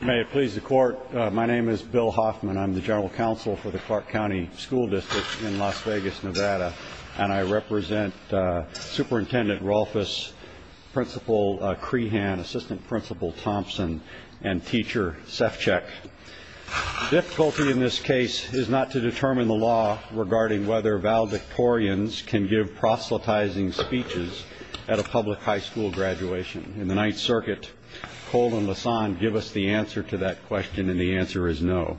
May it please the court. My name is Bill Hoffman. I'm the general counsel for the Clark County School District in Las Vegas, Nevada and I represent Superintendent Rolfes Principal Crehan assistant principal Thompson and teacher Sefchik Difficulty in this case is not to determine the law regarding whether valedictorians can give proselytizing speeches at a public high school graduation in the Ninth Circuit Cole and Lassonde give us the answer to that question and the answer is no.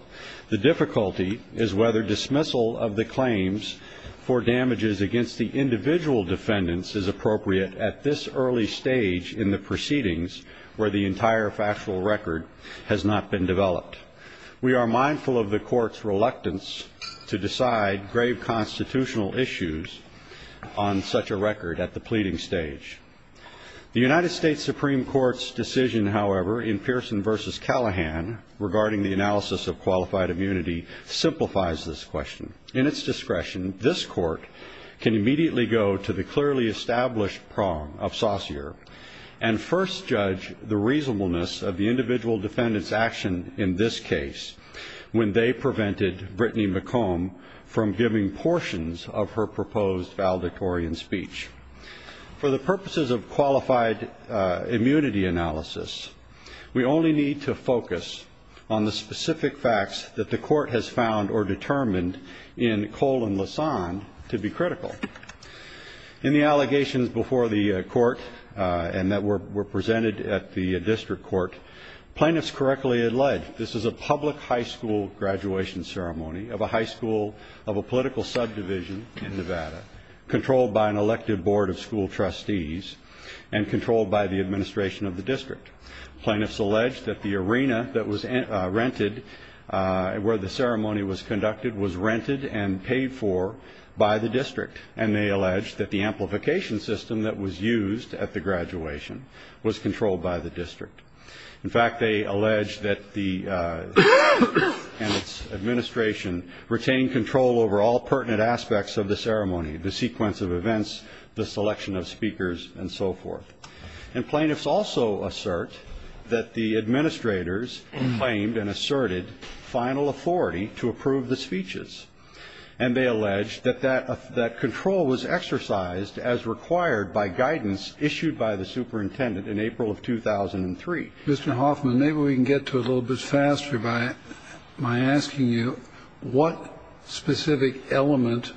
The difficulty is whether dismissal of the claims for damages against the individual defendants is appropriate at this early stage in the proceedings where the entire factual record has not been developed. We are mindful of the court's reluctance to decide grave constitutional issues on such a record at the pleading stage. The United States Supreme Court's decision, however, in Pearson v. Callahan regarding the analysis of qualified immunity simplifies this question. In its discretion, this court can immediately go to the clearly established prong of Saucere and first judge the reasonableness of the individual defendants action in this case when they prevented Brittany McComb from giving portions of her proposed valedictorian speech. For the purposes of qualified immunity analysis, we only need to focus on the specific facts that the court has found or determined in Cole and Lassonde to be critical. In the allegations before the court and that were presented at the district court, plaintiffs correctly alleged this is a public high school graduation ceremony of a high school of a political subdivision in Nevada controlled by an elected board of school trustees and controlled by the administration of the district. Plaintiffs alleged that the arena that was rented where the ceremony was conducted was rented and paid for by the district and they alleged that the amplification system that was used at the graduation was controlled by the district. In fact, they alleged that the pertinent aspects of the ceremony, the sequence of events, the selection of speakers and so forth. And plaintiffs also assert that the administrators claimed and asserted final authority to approve the speeches and they alleged that that that control was exercised as required by guidance issued by the superintendent in April of 2003. Mr. Hoffman, maybe we can get to a little bit faster by my asking you what specific element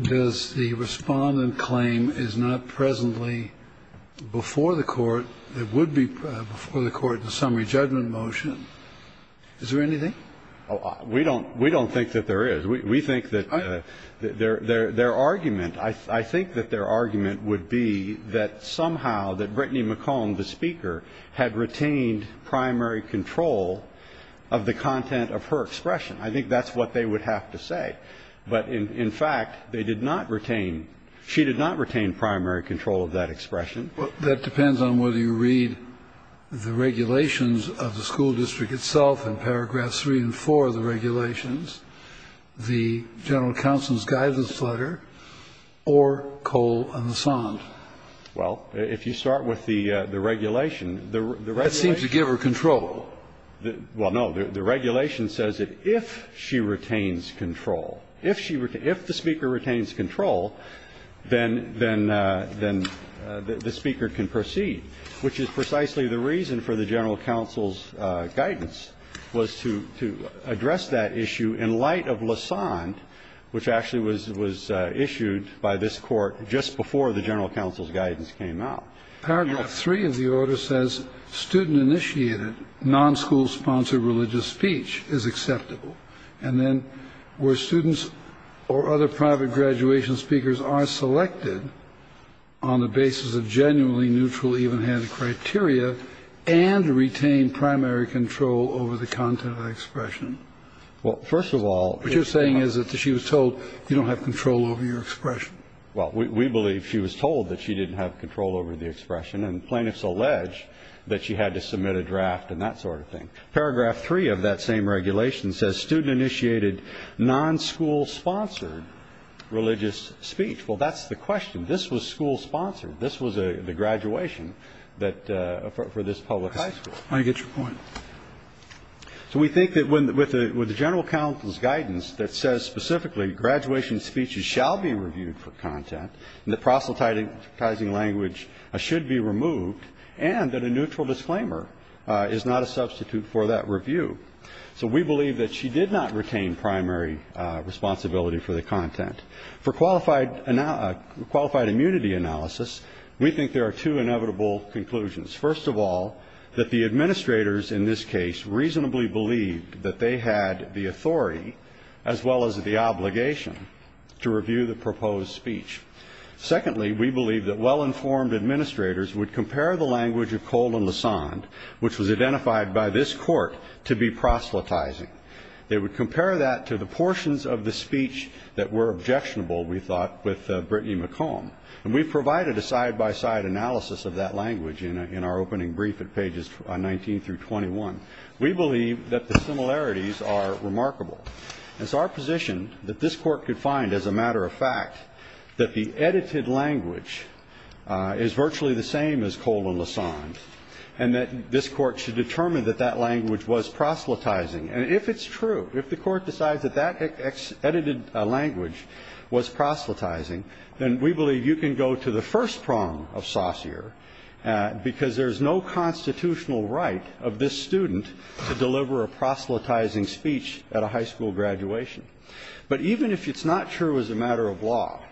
does the respondent claim is not presently before the court that would be before the court in a summary judgment motion? Is there anything? We don't we don't think that there is. We think that their their their argument, I think that their argument would be that somehow that Brittany McComb, the speaker, had retained primary control of the content of her expression. I think that's what they would have to say. But in fact, they did not retain she did not retain primary control of that expression. That depends on whether you read the regulations of the school district itself in paragraphs three and four of the regulations, the general counsel's guidance letter, or Cole and Lassonde. Well, if you start with the the regulation, the right seems to give her control Well, no, the regulation says that if she retains control if she were to if the speaker retains control then then then The speaker can proceed which is precisely the reason for the general counsel's Guidance was to to address that issue in light of Lassonde Which actually was was issued by this court just before the general counsel's guidance came out Paragraph three of the order says student initiated non school-sponsored religious speech is acceptable And then where students or other private graduation speakers are selected on the basis of genuinely neutral even-handed criteria and retain primary control over the content of expression First of all, what you're saying is that she was told you don't have control over your expression Well, we believe she was told that she didn't have control over the expression and plaintiffs alleged That she had to submit a draft and that sort of thing paragraph three of that same regulation says student initiated non-school-sponsored Religious speech. Well, that's the question. This was school-sponsored. This was a the graduation that For this public high school. I get your point So we think that when with the with the general counsel's guidance that says specifically Graduation speeches shall be reviewed for content and the proselytizing language should be removed and that a neutral disclaimer Is not a substitute for that review. So we believe that she did not retain primary Responsibility for the content for qualified and now a qualified immunity analysis We think there are two inevitable conclusions first of all that the administrators in this case reasonably believed that they had the authority as Well as the obligation to review the proposed speech Secondly, we believe that well-informed administrators would compare the language of Cole and Lassonde Which was identified by this court to be proselytizing They would compare that to the portions of the speech that were objectionable With Brittany McComb and we provided a side-by-side analysis of that language in our opening brief at pages 19 through 21 We believe that the similarities are remarkable as our position that this court could find as a matter of fact that the edited language Is virtually the same as Cole and Lassonde and that this court should determine that that language was proselytizing And if it's true if the court decides that that Edited language was proselytizing then we believe you can go to the first prong of Saucere Because there's no constitutional right of this student to deliver a proselytizing speech at a high school graduation But even if it's not true as a matter of law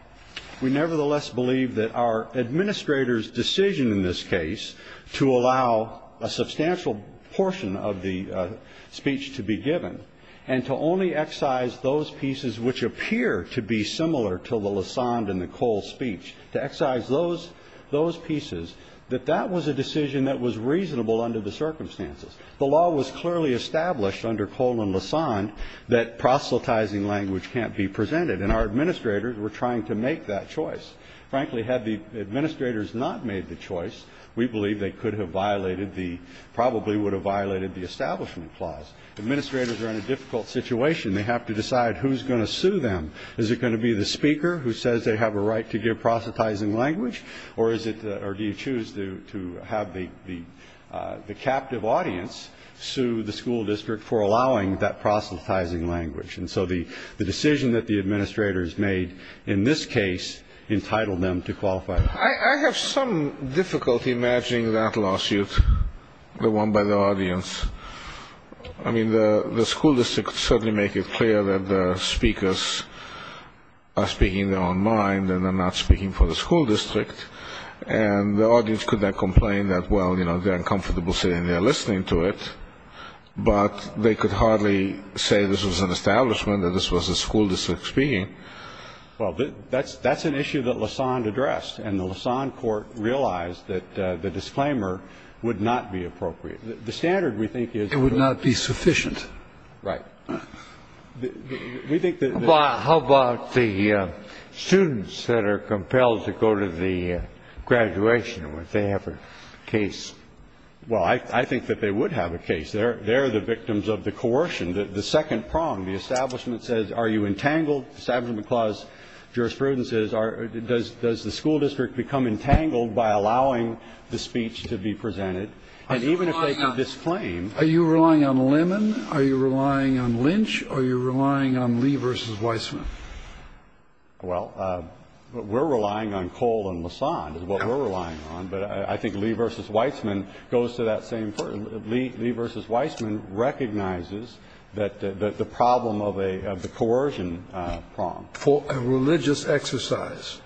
we nevertheless believe that our administrators decision in this case to allow a substantial portion of the Speech to be given and to only excise those pieces which appear to be similar to the Lassonde and the Cole speech to excise Those those pieces that that was a decision that was reasonable under the circumstances The law was clearly established under Cole and Lassonde that proselytizing language can't be presented and our administrators We're trying to make that choice Frankly had the administrators not made the choice We believe they could have violated the probably would have violated the establishment clause Administrators are in a difficult situation. They have to decide who's going to sue them Is it going to be the speaker who says they have a right to give proselytizing language? Or is it or do you choose to have the the the captive audience? Sue the school district for allowing that proselytizing language And so the the decision that the administrators made in this case entitled them to qualify I have some difficulty matching that lawsuit the one by the audience I Mean the the school district certainly make it clear that the speakers are speaking their own mind and they're not speaking for the school district and The audience could not complain that well, you know, they're uncomfortable saying they're listening to it But they could hardly say this was an establishment that this was a school district speaking Well, that's that's an issue that LaSonde addressed and the LaSonde court realized that the disclaimer would not be appropriate The standard we think is it would not be sufficient, right? We think that how about the students that are compelled to go to the Graduation when they have a case Well, I think that they would have a case there They're the victims of the coercion that the second prong the establishment says, are you entangled establishment clause? Jurisprudence is our does does the school district become entangled by allowing the speech to be presented? And even if they can disclaim are you relying on a lemon? Are you relying on Lynch? Are you relying on Lee versus Weissman? well We're relying on coal and LaSonde is what we're relying on But I think Lee versus Weissman goes to that same Lee Lee versus Weissman recognizes that the problem of a the coercion prong for a religious exercise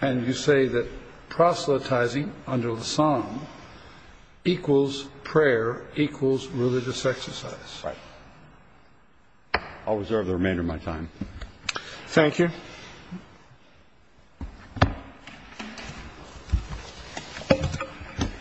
and You say that? proselytizing under the psalm equals prayer equals religious exercise I'll reserve the remainder of my time. Thank you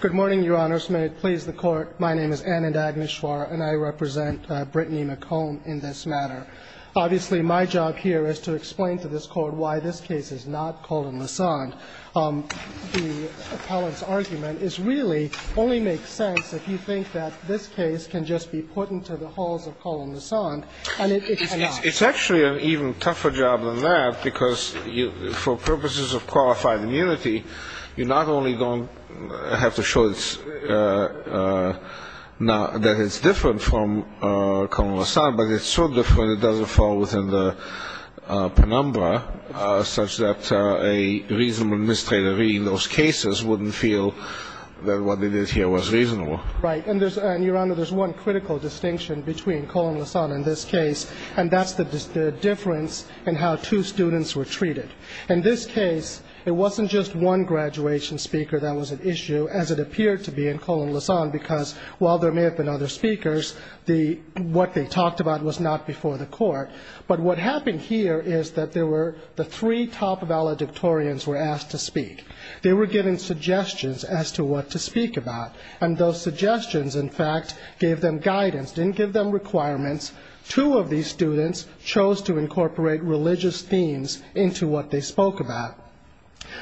Good morning, Your Honor Smith, please the court My name is Anna Dagmeshwar and I represent Brittany McComb in this matter Obviously my job here is to explain to this court why this case is not called in LaSonde Appellant's argument is really only makes sense If you think that this case can just be put into the halls of colon LaSonde It's actually an even tougher job than that because you for purposes of qualified immunity You're not only going I have to show it's Now that it's different from colon LaSonde, but it's so different it doesn't fall within the penumbra such that a Reasonable administrator reading those cases wouldn't feel that what they did here was reasonable, right? And there's and your honor there's one critical distinction between colon LaSonde in this case And that's the difference and how two students were treated in this case It wasn't just one graduation speaker that was an issue as it appeared to be in colon LaSonde because while there may have been other speakers the What they talked about was not before the court But what happened here is that there were the three top of valedictorians were asked to speak They were given suggestions as to what to speak about and those suggestions in fact gave them guidance didn't give them Requirements two of these students chose to incorporate religious themes into what they spoke about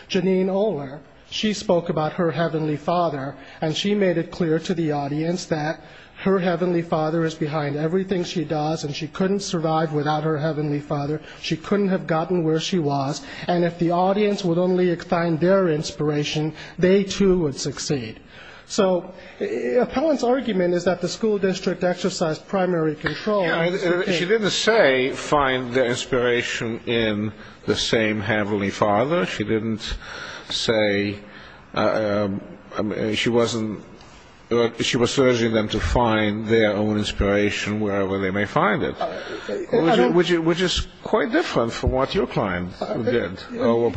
Janine Ohler she spoke about her heavenly father And she made it clear to the audience that her heavenly father is behind everything She does and she couldn't survive without her heavenly father She couldn't have gotten where she was and if the audience would only find their inspiration. They too would succeed so Appellants argument is that the school district exercised primary control She didn't say find the inspiration in the same heavenly father She didn't say She wasn't She was urging them to find their own inspiration wherever they may find it Which is quite different from what your client did Your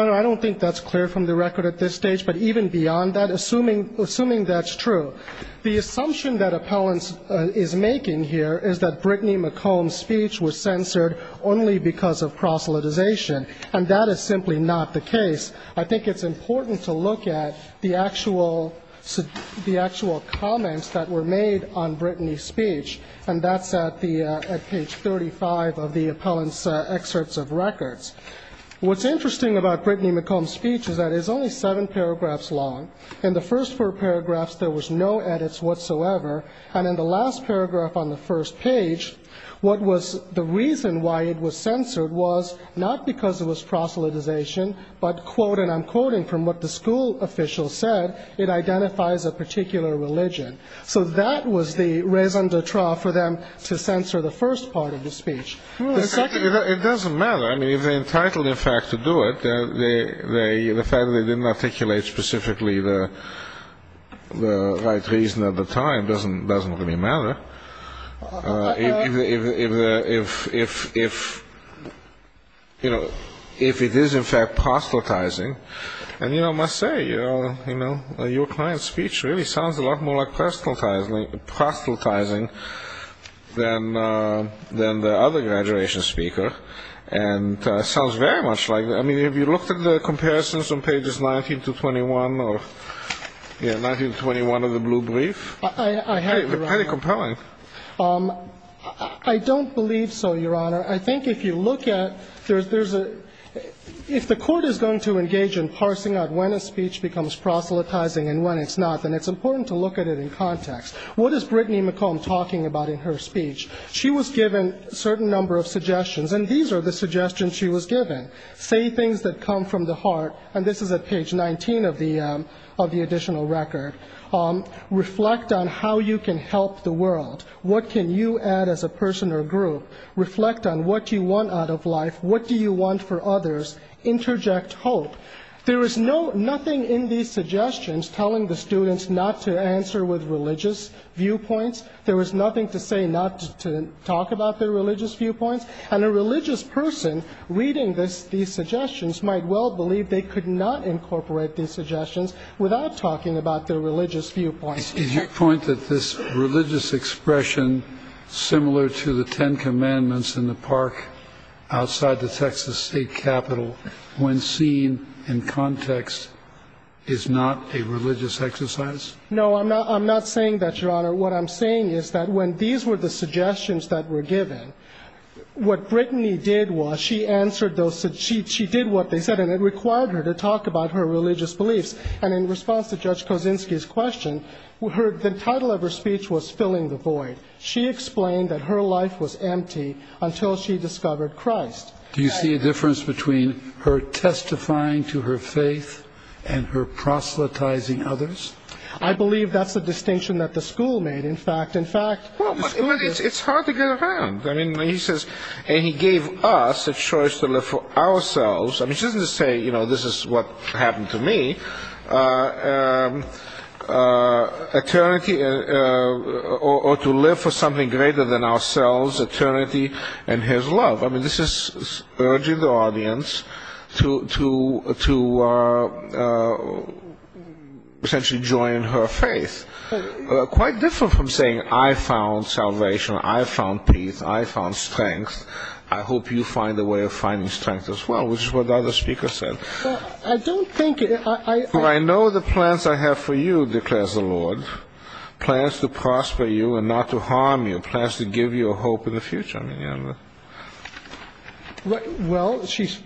honor I don't think that's clear from the record at this stage But even beyond that assuming assuming that's true The assumption that appellants is making here is that Brittany McComb speech was censored only because of proselytization And that is simply not the case. I think it's important to look at the actual The actual comments that were made on Brittany's speech and that's at the at page 35 of the appellants excerpts of records What's interesting about Brittany McComb speech is that is only seven paragraphs long in the first four paragraphs There was no edits whatsoever and in the last paragraph on the first page What was the reason why it was censored was not because it was proselytization But quote and I'm quoting from what the school official said it identifies a particular religion So that was the raison d'etre for them to censor the first part of the speech It doesn't matter. I mean if they entitled in fact to do it, they they the fact that they didn't articulate specifically the Right reason at the time doesn't doesn't really matter If You know if it is in fact Proselytizing and you know must say, you know, you know your client's speech really sounds a lot more like personal time proselytizing then then the other graduation speaker and Sounds very much like that. I mean if you looked at the comparisons on pages 19 to 21 or Yeah, 1921 of the blue brief, I had a compelling I Don't believe so. Your honor. I think if you look at there's there's a If the court is going to engage in parsing out when a speech becomes proselytizing and when it's not then it's important to look at It in context. What is Brittany McComb talking about in her speech? She was given a certain number of suggestions and these are the suggestions she was given say things that come from the heart and this is a page 19 of the additional record Reflect on how you can help the world. What can you add as a person or group reflect on what you want out of life? What do you want for others? Interject hope there is no nothing in these suggestions telling the students not to answer with religious Viewpoints there was nothing to say not to talk about their religious viewpoints and a religious person Reading this these suggestions might well believe they could not incorporate these suggestions without talking about their religious viewpoints Did you point that this religious expression? Similar to the Ten Commandments in the park outside the Texas State Capitol When seen in context is not a religious exercise No, I'm not. I'm not saying that your honor. What I'm saying is that when these were the suggestions that were given What Brittany did was she answered those that she did what they said and it required her to talk about her religious beliefs and in response to Judge Kosinski's question We heard the title of her speech was filling the void She explained that her life was empty until she discovered Christ. Do you see a difference between her? testifying to her faith and her Proselytizing others. I believe that's the distinction that the school made. In fact, in fact It's hard to get around I mean he says and he gave us a choice to live for ourselves I mean she doesn't say, you know, this is what happened to me Eternity Or to live for something greater than ourselves eternity and his love. I mean this is urging the audience to to to Essentially join her faith Quite different from saying I found salvation. I found peace. I found strength I hope you find a way of finding strength as well, which is what the other speaker said I don't think I know the plans I have for you declares the Lord Plans to prosper you and not to harm you plans to give you a hope in the future. I mean, yeah Well, she's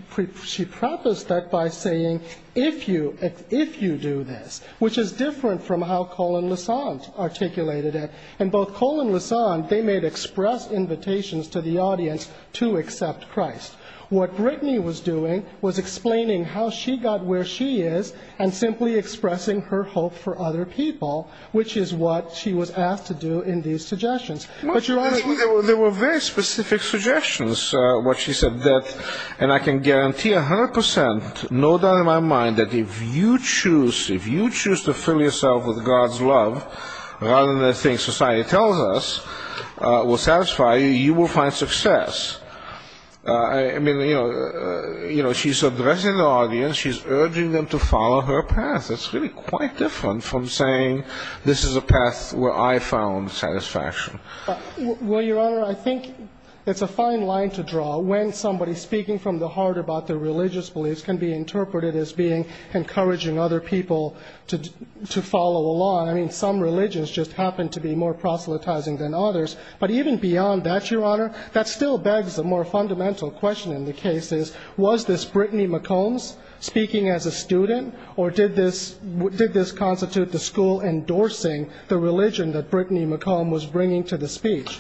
She practiced that by saying if you if you do this, which is different from how Colin Lassonde Articulated it and both Colin Lassonde. They made express invitations to the audience to accept Christ What Brittany was doing was explaining how she got where she is and simply expressing her hope for other people Which is what she was asked to do in these suggestions There were very specific suggestions what she said that and I can guarantee a hundred percent No doubt in my mind that if you choose if you choose to fill yourself with God's love Rather than the thing society tells us Will satisfy you you will find success I mean, you know, you know, she's addressing the audience. She's urging them to follow her path That's really quite different from saying this is a path where I found satisfaction Well, your honor I think it's a fine line to draw when somebody speaking from the heart about their religious beliefs can be interpreted as being Encouraging other people to to follow along. I mean some religions just happen to be more proselytizing than others But even beyond that your honor that still begs a more fundamental question in the case is was this Brittany McCombs? Speaking as a student or did this what did this constitute the school? Endorsing the religion that Brittany McComb was bringing to the speech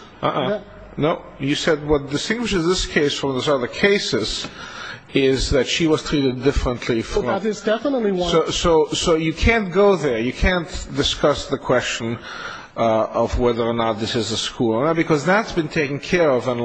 No, you said what distinguishes this case from those other cases is that she was treated differently So that is definitely so so you can't go there. You can't discuss the question Of whether or not this is a school because that's been taken care of and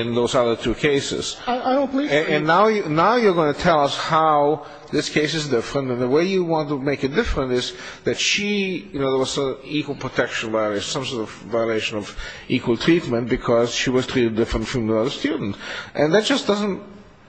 in those other two cases And now you now you're going to tell us how this case is different And the way you want to make it different is that she you know There was a equal protection where there's some sort of violation of equal treatment because she was treated different from the other student And that just doesn't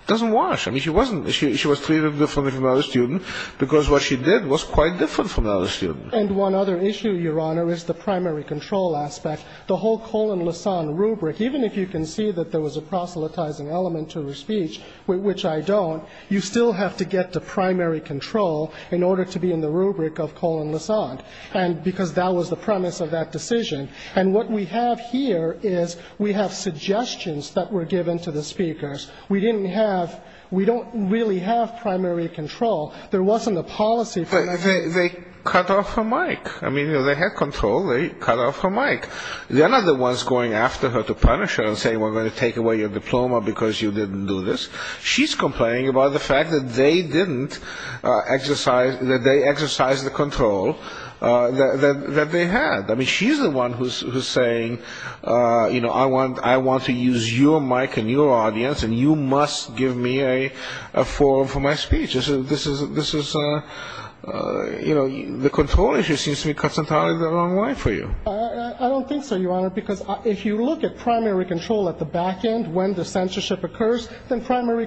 doesn't wash I mean she wasn't she was treated differently from other student because what she did was quite different from the other student and one other Issue your honor is the primary control aspect the whole colon lasagna rubric Even if you can see that there was a proselytizing element to her speech Which I don't you still have to get to primary control in order to be in the rubric of colon lasagna and Because that was the premise of that decision and what we have here is we have suggestions that were given to the speakers We didn't have we don't really have primary control. There wasn't a policy, but they cut off her mic I mean, you know, they had control they cut off her mic They're not the ones going after her to punish her and say we're going to take away your diploma because you didn't do this She's complaining about the fact that they didn't Exercise that they exercised the control That they had I mean, she's the one who's saying You know, I want I want to use your mic and your audience and you must give me a forum for my speech this is this is You know the control issue seems to be cut some time in the wrong way for you I don't think so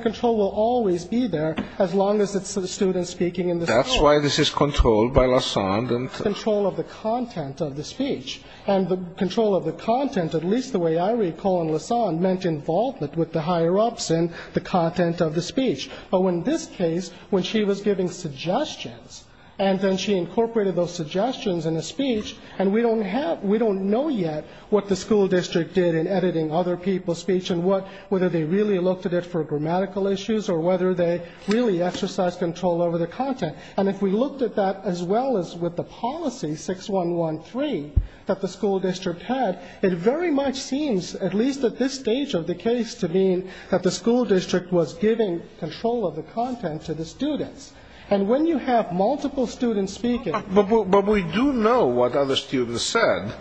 Control will always be there as long as it's the students speaking in the that's why this is controlled by Lassonde and control of the Content of the speech and the control of the content at least the way I recall in Lassonde meant Involvement with the higher-ups in the content of the speech, but when this case when she was giving suggestions And then she incorporated those suggestions in a speech and we don't have we don't know yet What the school district did in editing other people's speech and what whether they really looked at it for grammatical issues or whether they Really exercise control over the content and if we looked at that as well as with the policy 6113 that the school district had it very much seems at least at this stage of the case to mean that the school district Was giving control of the content to the students and when you have multiple students speaking But we do know what other students said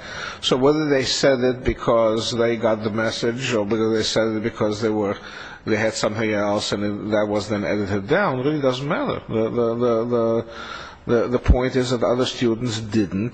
so whether they said it because they got the message or because they said it because they were They had something else and that was then edited down really doesn't matter The the point is that other students didn't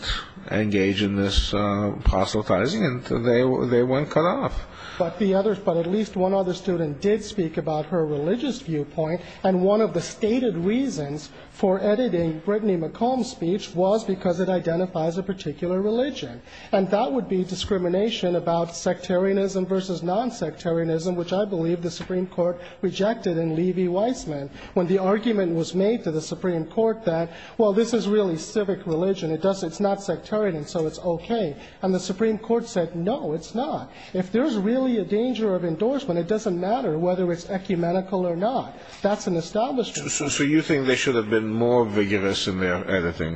engage in this Apostatizing and they they weren't cut off But the others but at least one other student did speak about her religious viewpoint and one of the stated reasons For editing Brittany McComb speech was because it identifies a particular religion and that would be discrimination about sectarianism versus non-sectarianism Which I believe the Supreme Court rejected in Levy Weissman when the argument was made to the Supreme Court that well This is really civic religion. It does it's not sectarian and so it's okay and the Supreme Court said no It's not if there's really a danger of endorsement. It doesn't matter whether it's ecumenical or not. That's an established So you think they should have been more vigorous in their editing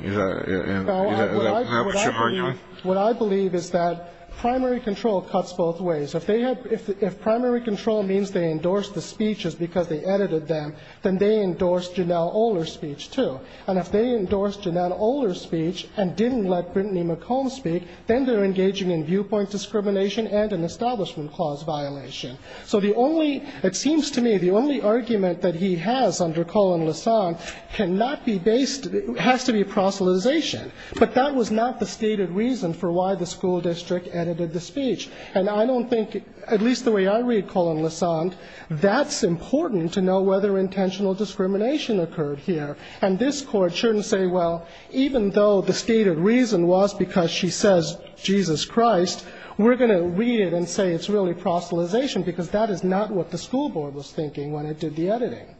What I believe is that primary control cuts both ways if they had if Primary control means they endorsed the speeches because they edited them then they endorsed Janelle Oler speech, too And if they endorsed Janelle Oler speech and didn't let Brittany McComb speak Then they're engaging in viewpoint discrimination and an establishment clause violation So the only it seems to me the only argument that he has under Colin Lassonde cannot be based has to be Proselytization, but that was not the stated reason for why the school district edited the speech and I don't think at least the way I read Colin Lassonde That's important to know whether intentional discrimination occurred here and this court shouldn't say Well, even though the stated reason was because she says Jesus Christ We're going to read it and say it's really Proselytization because that is not what the school board was thinking when it did the editing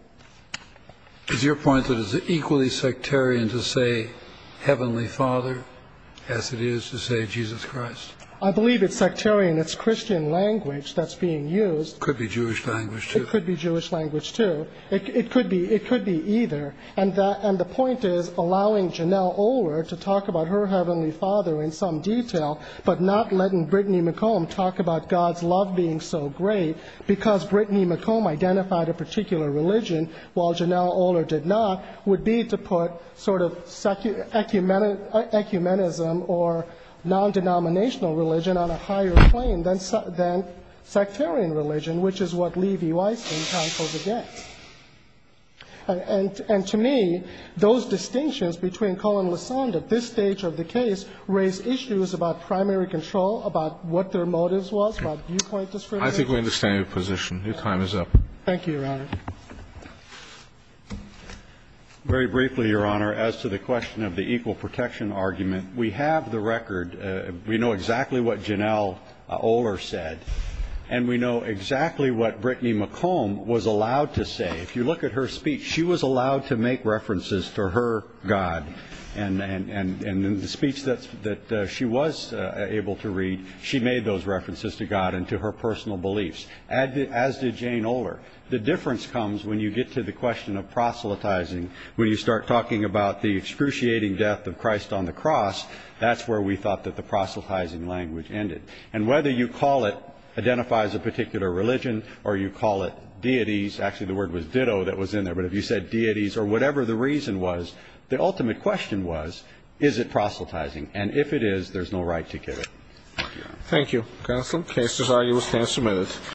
Is your point that is equally sectarian to say? Heavenly father as it is to say Jesus Christ. I believe it's sectarian It's Christian language that's being used could be Jewish language It could be Jewish language, too It could be it could be either and that and the point is allowing Janelle Oler to talk about her heavenly father in some Detail, but not letting Brittany McComb talk about God's love being so great because Brittany McComb identified a particular religion while Janelle Oler did not would be to put sort of secular ecumenism or Non-denominational religion on a higher plane than than sectarian religion, which is what Levi Weissman counseled against And and to me those distinctions between Colin LaSonde at this stage of the case raised issues about primary control About what their motives was but you point this I think we understand your position. Your time is up. Thank you Very briefly your honor as to the question of the equal protection argument. We have the record We know exactly what Janelle Oler said and we know exactly what Brittany McComb was allowed to say If you look at her speech, she was allowed to make references to her God and and and and in the speech That's that she was able to read She made those references to God and to her personal beliefs and as did Jane Oler the difference comes when you get to the question Of proselytizing when you start talking about the excruciating death of Christ on the cross That's where we thought that the proselytizing language ended and whether you call it Identifies a particular religion or you call it deities actually the word was ditto that was in there But if you said deities or whatever, the reason was the ultimate question was is it proselytizing and if it is there's no right to kill Thank you. Got some cases are you was canceled minutes?